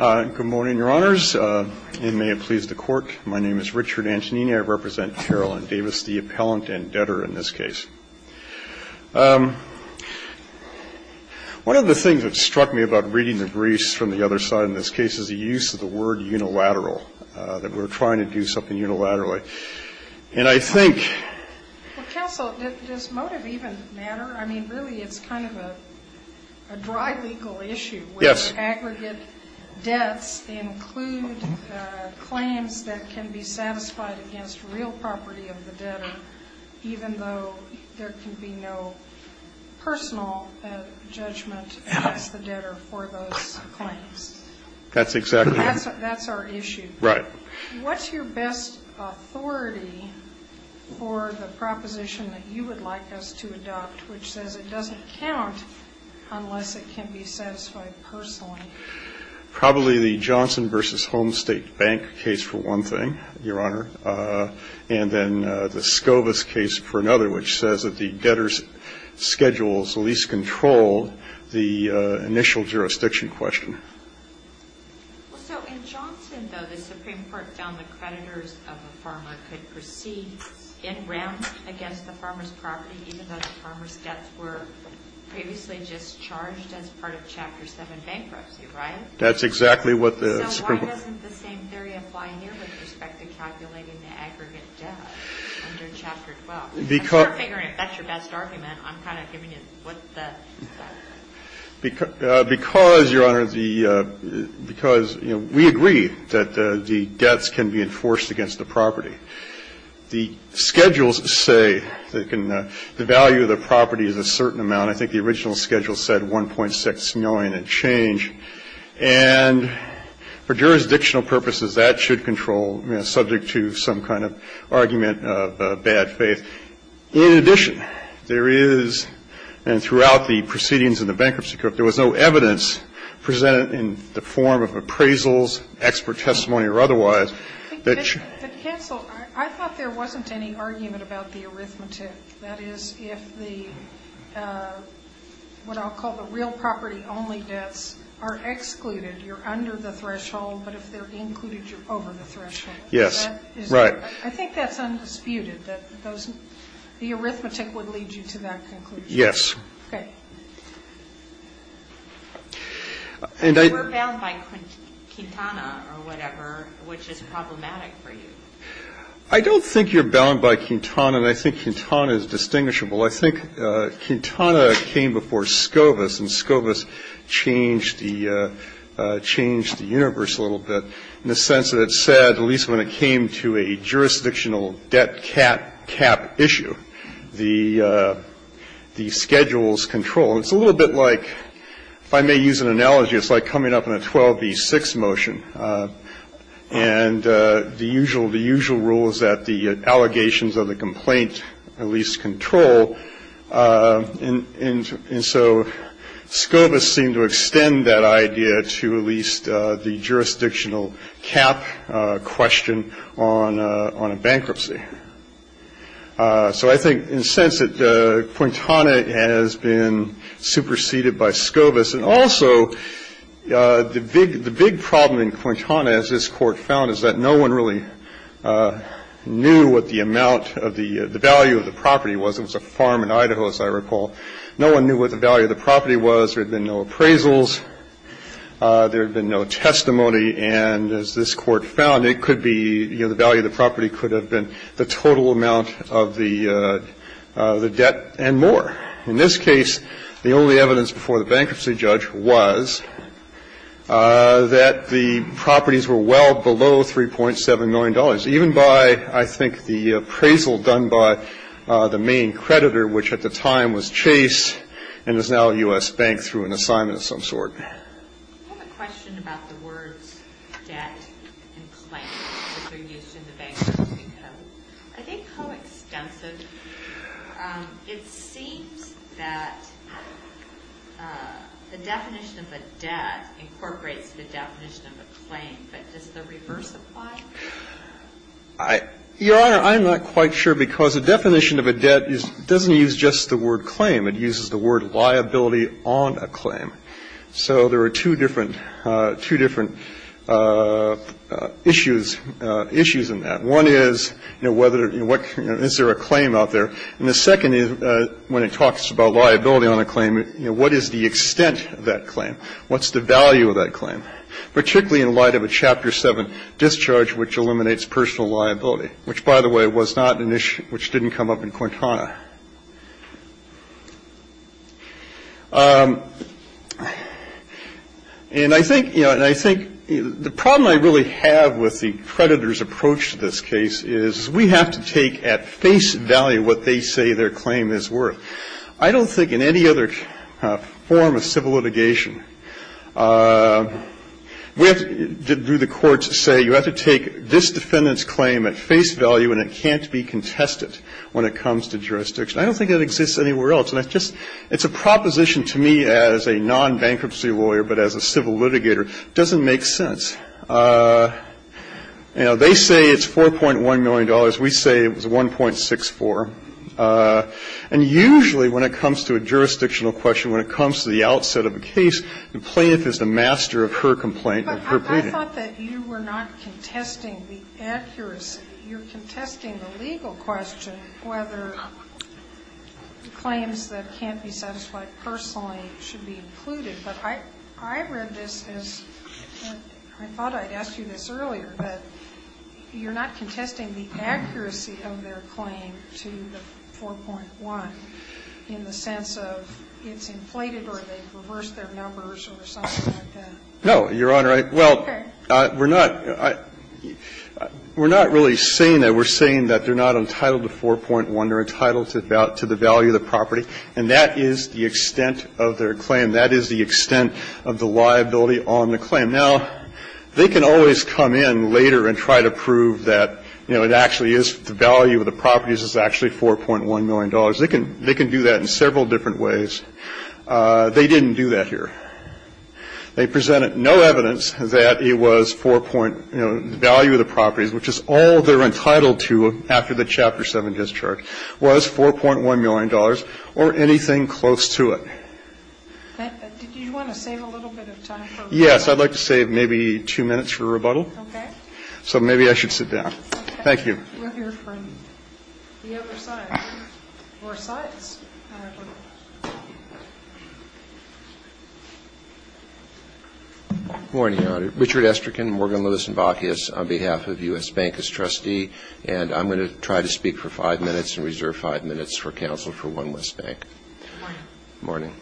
Good morning, Your Honors, and may it please the Court. My name is Richard Antonini. I represent Carolyn Davis, the appellant and debtor in this case. One of the things that struck me about reading the briefs from the other side in this case is the use of the word unilateral, that we're trying to do something unilaterally. And I think ---- Well, counsel, does motive even matter? I mean, really, it's kind of a dry legal issue, where the aggregate debts include claims that can be satisfied against real property of the debtor, even though there can be no personal judgment against the debtor for those claims. That's exactly right. That's our issue. Right. What's your best authority for the proposition that you would like us to adopt, which says it doesn't count unless it can be satisfied personally? Probably the Johnson v. Homestate Bank case for one thing, Your Honor, and then the Scovis case for another, which says that the debtor's schedules least control the initial jurisdiction question. Well, so in Johnson, though, the Supreme Court found the creditors of a farmer could proceed in rem against the farmer's property, even though the farmer's debts were previously discharged as part of Chapter 7 bankruptcy, right? That's exactly what the Supreme Court ---- So why doesn't the same theory apply here with respect to calculating the aggregate debt under Chapter 12? I'm sort of figuring if that's your best argument, I'm kind of giving you what the ---- Because, Your Honor, the ---- because, you know, we agree that the debts can be enforced against the property. The schedules say that the value of the property is a certain amount. I think the original schedule said 1.6 million and change. And for jurisdictional purposes, that should control, you know, subject to some kind of argument of bad faith. In addition, there is, and throughout the proceedings in the Bankruptcy Court, there was no evidence presented in the form of appraisals, expert testimony or otherwise that should ---- But, counsel, I thought there wasn't any argument about the arithmetic. That is, if the what I'll call the real property only debts are excluded, you're under the threshold, but if they're included, you're over the threshold. Yes. Right. I think that's undisputed, that those ---- the arithmetic would lead you to that conclusion. Yes. Okay. And I ---- You were bound by Quintana or whatever, which is problematic for you. I don't think you're bound by Quintana, and I think Quintana is distinguishable. I think Quintana came before Scobus, and Scobus changed the universe a little bit in the sense that it said, at least when it came to a jurisdictional debt cap issue, the schedules control. It's a little bit like, if I may use an analogy, it's like coming up in a 12-B-6 motion, and the usual rule is that the allegations of the complaint at least control, and so Scobus seemed to extend that idea to at least the jurisdictional cap question on a bankruptcy. So I think in a sense that Quintana has been superseded by Scobus. And also, the big problem in Quintana, as this Court found, is that no one really knew what the amount of the ---- the value of the property was. It was a farm in Idaho, as I recall. No one knew what the value of the property was. There had been no appraisals. There had been no testimony. And as this Court found, it could be, you know, the value of the property could have been the total amount of the debt and more. In this case, the only evidence before the bankruptcy judge was that the properties were well below $3.7 million, even by, I think, the appraisal done by the main creditor, which at the time was Chase and is now U.S. Bank through an assignment of some sort. I have a question about the words debt and claim, which are used in the bankruptcy code. I think how extensive ---- it seems that the definition of a debt incorporates the definition of a claim, but does the reverse apply? Your Honor, I'm not quite sure, because the definition of a debt doesn't use just the It uses the word liability on a claim. So there are two different issues in that. One is, you know, is there a claim out there? And the second is, when it talks about liability on a claim, you know, what is the extent of that claim? What's the value of that claim, particularly in light of a Chapter 7 discharge which eliminates personal liability, which, by the way, was not an issue, which didn't come up in Quintana. And I think, you know, and I think the problem I really have with the creditor's approach to this case is we have to take at face value what they say their claim is worth. I don't think in any other form of civil litigation, we have to do the courts say you have to take this defendant's claim at face value and it can't be contested when it comes to jurisdiction. I don't think that exists anywhere else. And I just, it's a proposition to me as a non-bankruptcy lawyer, but as a civil litigator, it doesn't make sense. You know, they say it's $4.1 million. We say it was $1.64. And usually when it comes to a jurisdictional question, when it comes to the outset of a case, the plaintiff is the master of her complaint. Sotomayor, I thought that you were not contesting the accuracy. You're contesting the legal question, whether claims that can't be satisfied personally should be included. But I read this as, I thought I'd asked you this earlier, but you're not contesting the accuracy of their claim to the $4.1 in the sense of it's inflated or they've reversed their numbers or something like that. No, Your Honor. Well, we're not, we're not really saying that. We're saying that they're not entitled to $4.1. They're entitled to the value of the property. And that is the extent of their claim. That is the extent of the liability on the claim. Now, they can always come in later and try to prove that, you know, it actually is, the value of the property is actually $4.1 million. They can do that in several different ways. They didn't do that here. They presented no evidence that it was 4 point, you know, the value of the property, which is all they're entitled to after the Chapter 7 discharge, was $4.1 million or anything close to it. Do you want to save a little bit of time? Yes, I'd like to save maybe two minutes for rebuttal. Okay. So maybe I should sit down. Thank you. We're here from the other side. More sides. Morning, Your Honor. Richard Esterkin, Morgan, Lewis, and Bacchius on behalf of U.S. Bank as trustee. And I'm going to try to speak for five minutes and reserve five minutes for counsel for one West Bank. Morning.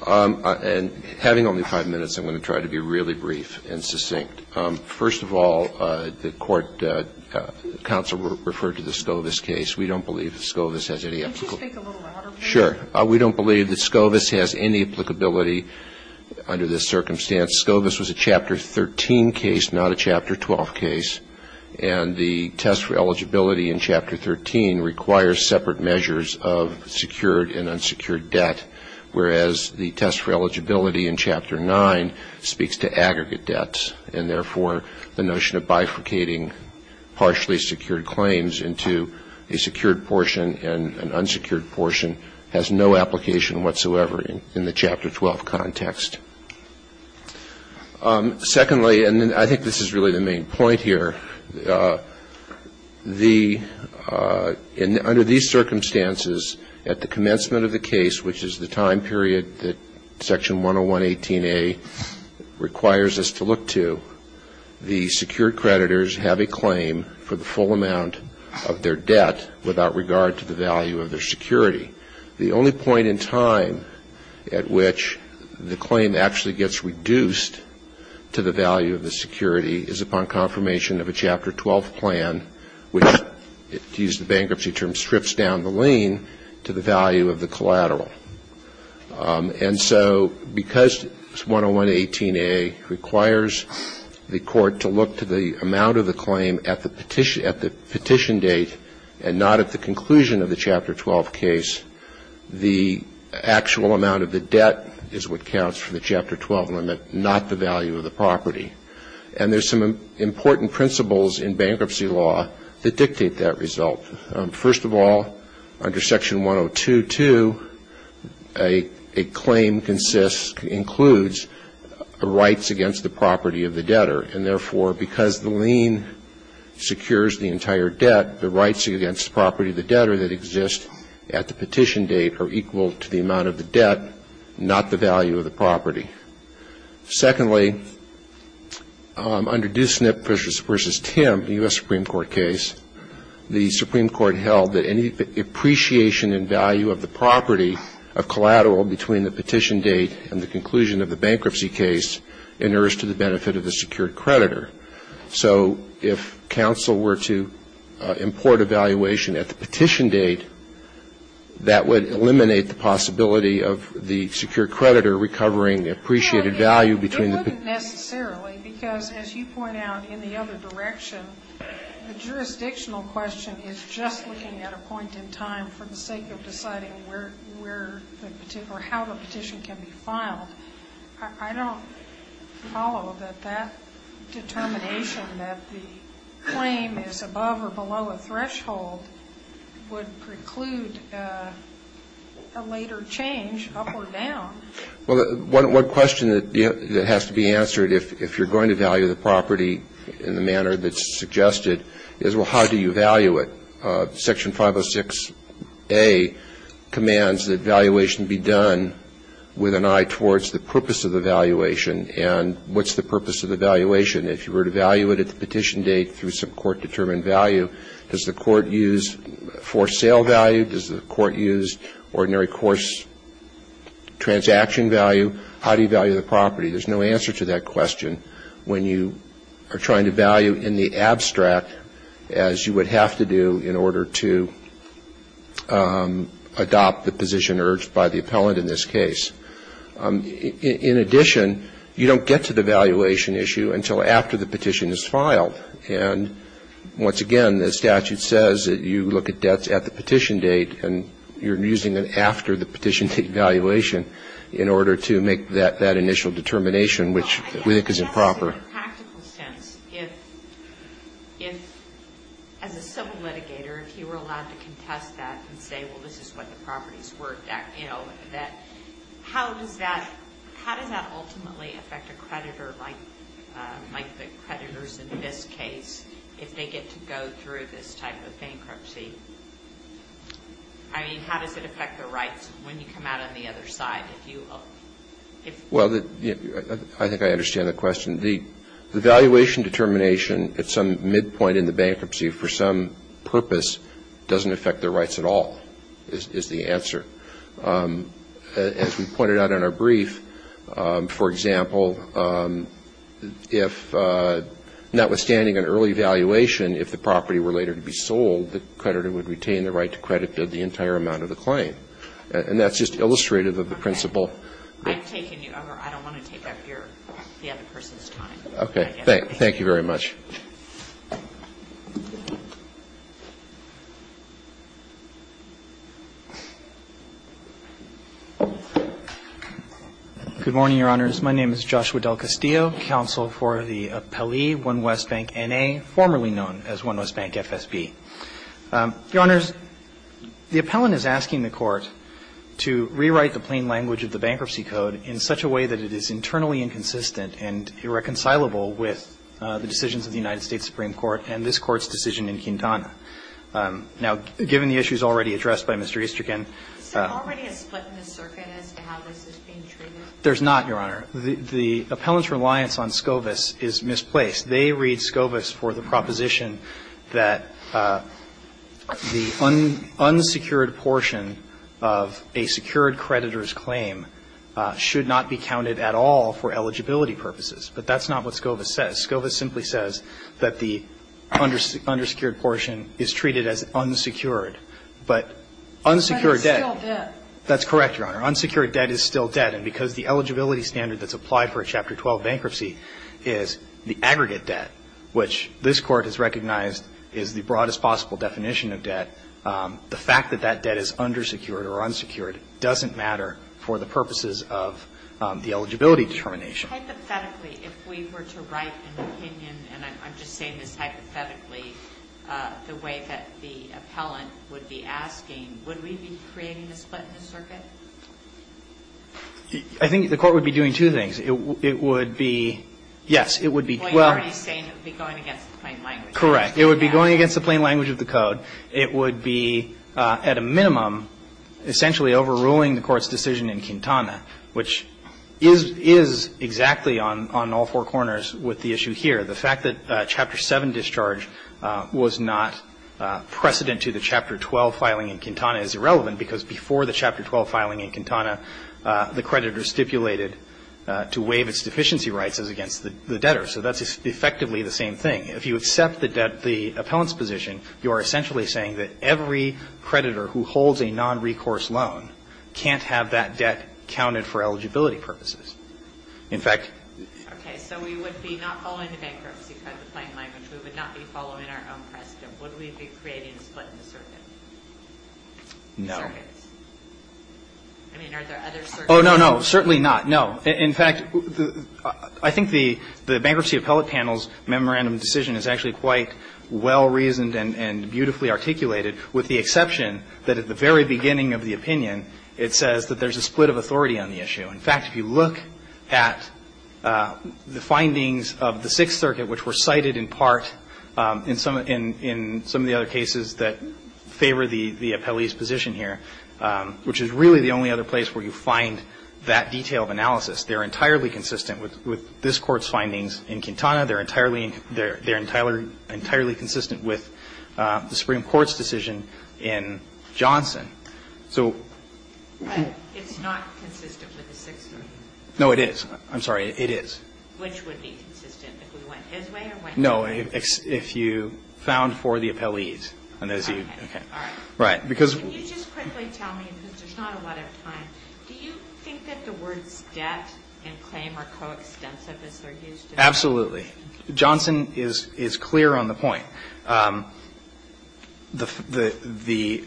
Morning. And having only five minutes, I'm going to try to be really brief and succinct. First of all, the court counsel referred to the Scovis case. We don't believe that Scovis has any applicability. Could you speak a little louder, please? Sure. We don't believe that Scovis has any applicability under this circumstance. Scovis was a Chapter 13 case, not a Chapter 12 case. And the test for eligibility in Chapter 13 requires separate measures of secured and unsecured debt, whereas the test for eligibility in Chapter 9 speaks to aggregate debts, and therefore, the notion of bifurcating partially secured claims into a secured portion and an unsecured portion has no application whatsoever in the Chapter 12 context. Secondly, and I think this is really the main point here, the under these circumstances at the commencement of the case, which is the time period that Section 10118A requires us to look to, the secured creditors have a claim for the full amount of their debt without regard to the value of their security. The only point in time at which the claim actually gets reduced to the value of the security is upon confirmation of a Chapter 12 plan, which, to use the bankruptcy term, strips down the lien to the value of the collateral. And so, because 10118A requires the court to look to the amount of the claim at the petition date and not at the conclusion of the Chapter 12 case, the actual amount of the debt is what counts for the Chapter 12 limit, not the value of the property. And there's some important principles in bankruptcy law that dictate that result. First of all, under Section 1022, a claim consists, includes rights against the property of the debtor. And therefore, because the lien secures the entire debt, the rights against the property of the debtor that exist at the petition date are equal to the amount of the debt, not the value of the property. Secondly, under Duesnip v. Tim, the U.S. Supreme Court case, the Supreme Court held that any appreciation in value of the property of collateral between the petition date and the conclusion of the bankruptcy case inerrs to the benefit of the secured creditor. So if counsel were to import a valuation at the petition date, that would eliminate the possibility of the secured creditor recovering the appreciated value between the petition date and the conclusion of the bankruptcy case. It wouldn't necessarily, because as you point out, in the other direction, the jurisdictional question is just looking at a point in time for the sake of deciding where the petition or how the petition can be filed. I don't follow that that determination, that the claim is above or below a threshold, would preclude a later change up or down. Well, one question that has to be answered if you're going to value the property in the manner that's suggested is, well, how do you value it? Section 506a commands that valuation be done with an eye towards the purpose of the valuation. And what's the purpose of the valuation? If you were to value it at the petition date through some court-determined value, does the court use for sale value? Does the court use ordinary course transaction value? How do you value the property? There's no answer to that question when you are trying to value in the abstract as you would have to do in order to adopt the position urged by the appellant in this case. In addition, you don't get to the valuation issue until after the petition is filed. And once again, the statute says that you look at debts at the petition date, and you're using it after the petition date valuation in order to make that initial determination, which we think is improper. Well, I guess in a practical sense, if as a civil litigator, if you were allowed to contest that and say, well, this is what the properties were, that, you know, that, how does that ultimately affect a creditor like the creditors in this case if they get to go through this type of bankruptcy? I mean, how does it affect their rights when you come out on the other side? Well, I think I understand the question. The valuation determination at some midpoint in the bankruptcy for some purpose doesn't affect their rights at all is the answer. As we pointed out in our brief, for example, if notwithstanding an early valuation, if the property were later to be sold, the creditor would retain the right to credit the entire amount of the claim. And that's just illustrative of the principle. Okay. I don't want to take up the other person's time. Okay. Thank you very much. Good morning, Your Honors. My name is Joshua DelCastillo, counsel for the appellee, One West Bank N.A., formerly known as One West Bank FSB. Your Honors, the appellant is asking the Court to rewrite the plain language of the Bankruptcy Code in such a way that it is internally inconsistent and irreconcilable with the decisions of the United States Supreme Court and this Court's decision in Quintana. Now, given the issues already addressed by Mr. Easterkin. Is there already a split in the circuit as to how this is being treated? There's not, Your Honor. The appellant's reliance on Scovis is misplaced. They read Scovis for the proposition that the unsecured portion of a secured creditor's claim should not be counted at all for eligibility purposes. But that's not what Scovis says. Scovis simply says that the undersecured portion is treated as unsecured. But unsecured debt. But it's still debt. That's correct, Your Honor. Unsecured debt is still debt. And because the eligibility standard that's applied for a Chapter 12 bankruptcy is the aggregate debt, which this Court has recognized is the broadest possible definition of debt, the fact that that debt is undersecured or unsecured doesn't matter for the purposes of the eligibility determination. So hypothetically, if we were to write an opinion, and I'm just saying this hypothetically, the way that the appellant would be asking, would we be creating a split in the circuit? I think the Court would be doing two things. It would be, yes, it would be. Well, you're already saying it would be going against the plain language. Correct. It would be going against the plain language of the Code. It would be, at a minimum, essentially overruling the Court's decision in Quintana, which is exactly on all four corners with the issue here. The fact that Chapter 7 discharge was not precedent to the Chapter 12 filing in Quintana is irrelevant, because before the Chapter 12 filing in Quintana, the creditor stipulated to waive its deficiency rights as against the debtor. So that's effectively the same thing. If you accept the debt, the appellant's position, you are essentially saying that every creditor who holds a nonrecourse loan can't have that debt counted for eligibility purposes. In fact ---- Okay. So we would be not following the bankruptcy code, the plain language. We would not be following our own precedent. Would we be creating a split in the circuit? No. I mean, are there other circuits? Oh, no, no, certainly not. In fact, I think the bankruptcy appellate panel's memorandum decision is actually quite well-reasoned and beautifully articulated, with the exception that at the very beginning of the opinion, it says that there's a split of authority on the issue. In fact, if you look at the findings of the Sixth Circuit, which were cited in part in some of the other cases that favor the appellee's position here, which is really the only other place where you find that detail of analysis. They're entirely consistent with this Court's findings in Quintana. They're entirely consistent with the Supreme Court's decision in Johnson. So ---- But it's not consistent with the Sixth Circuit. No, it is. I'm sorry. It is. Which would be consistent? If we went his way or went your way? No. If you found for the appellees. Okay. All right. Right. Because ---- Can you just quickly tell me, because there's not a lot of time, do you think that the Johnson is clear on the point? The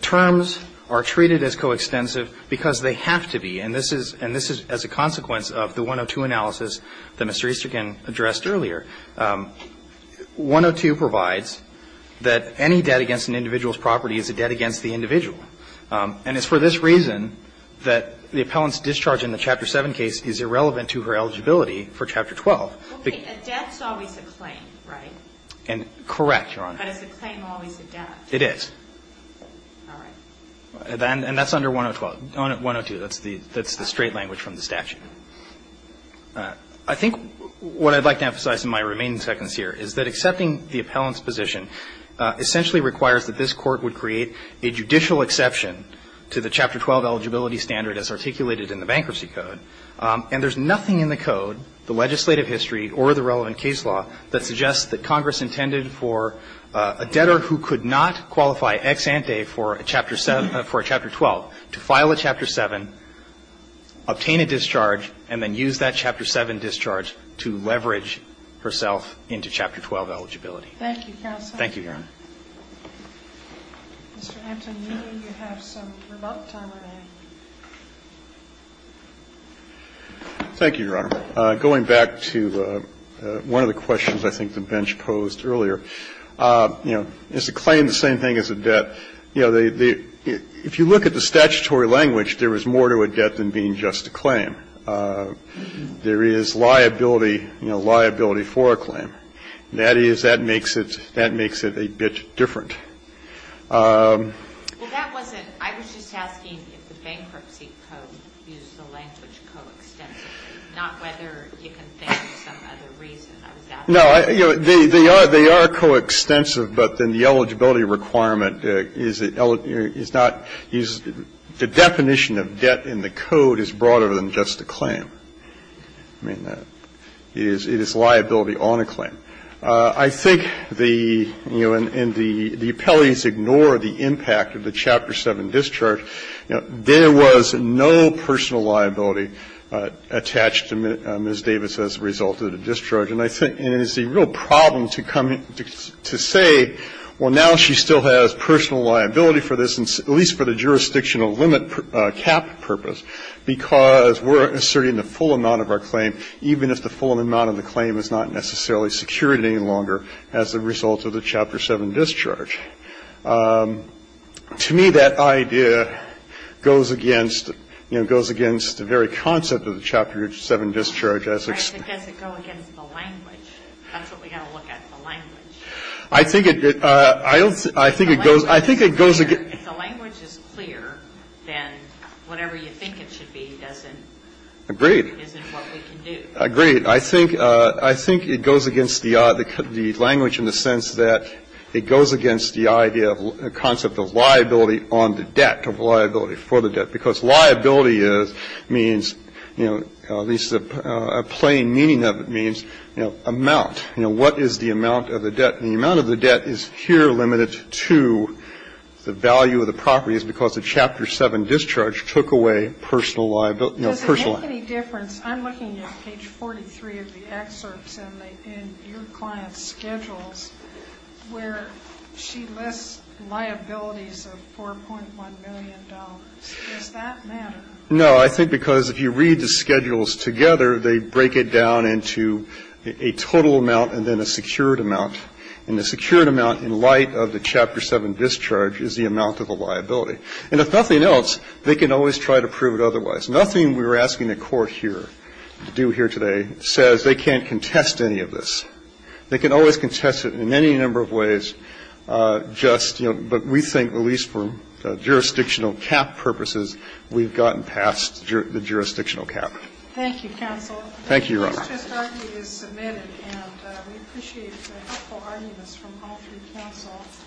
terms are treated as coextensive because they have to be. And this is as a consequence of the 102 analysis that Mr. Easterkin addressed earlier. 102 provides that any debt against an individual's property is a debt against the individual. And it's for this reason that the appellant's discharge in the Chapter 7 case is irrelevant to her eligibility for Chapter 12. Okay. A debt's always a claim, right? Correct, Your Honor. But is a claim always a debt? It is. All right. And that's under 102. That's the straight language from the statute. I think what I'd like to emphasize in my remaining seconds here is that accepting the appellant's position essentially requires that this Court would create a judicial exception to the Chapter 12 eligibility standard as articulated in the Bankruptcy There is nothing in the Code, the legislative history or the relevant case law, that suggests that Congress intended for a debtor who could not qualify ex ante for a Chapter 7 or for a Chapter 12 to file a Chapter 7, obtain a discharge, and then use that Chapter 7 discharge to leverage herself into Chapter 12 eligibility. Thank you, counsel. Thank you, Your Honor. Mr. Antonini, you have some remote time remaining. Thank you, Your Honor. Going back to one of the questions I think the bench posed earlier, you know, is a claim the same thing as a debt? You know, if you look at the statutory language, there is more to a debt than being just a claim. There is liability, you know, liability for a claim. That is, that makes it a bit different. Well, that wasn't, I was just asking if the Bankruptcy Code used the language coextensive, not whether you can think of some other reason. I was asking. No, they are coextensive, but then the eligibility requirement is not, the definition of a claim. I mean, it is liability on a claim. I think the, you know, and the appellees ignore the impact of the Chapter 7 discharge. There was no personal liability attached to Ms. Davis as a result of the discharge. And I think it is a real problem to come to say, well, now she still has personal liability for this, at least for the jurisdictional limit cap purpose, because we are asserting the full amount of our claim, even if the full amount of the claim is not necessarily secured any longer as a result of the Chapter 7 discharge. To me, that idea goes against, you know, goes against the very concept of the Chapter 7 discharge as it's. Right, but does it go against the language? That's what we have to look at, the language. I think it, I don't, I think it goes, I think it goes against. If the language is clear, then whatever you think it should be doesn't. Agreed. Isn't what we can do. Agreed. I think, I think it goes against the language in the sense that it goes against the idea of the concept of liability on the debt, of liability for the debt. Because liability is, means, you know, at least a plain meaning of it means, you know, amount. You know, what is the amount of the debt? The amount of the debt is here limited to the value of the property is because the Chapter 7 discharge took away personal liability, you know, personal. Does it make any difference? I'm looking at page 43 of the excerpts in the, in your client's schedules where she lists liabilities of $4.1 million. Does that matter? No. I think because if you read the schedules together, they break it down into a total amount and then a secured amount. And the secured amount in light of the Chapter 7 discharge is the amount of the liability. And if nothing else, they can always try to prove it otherwise. Nothing we're asking the Court here to do here today says they can't contest any of this. They can always contest it in any number of ways, just, you know, but we think at least for jurisdictional cap purposes, we've gotten past the jurisdictional cap. Thank you, counsel. Thank you, Your Honor. This testimony is submitted, and we appreciate the helpful arguments from all three counsels.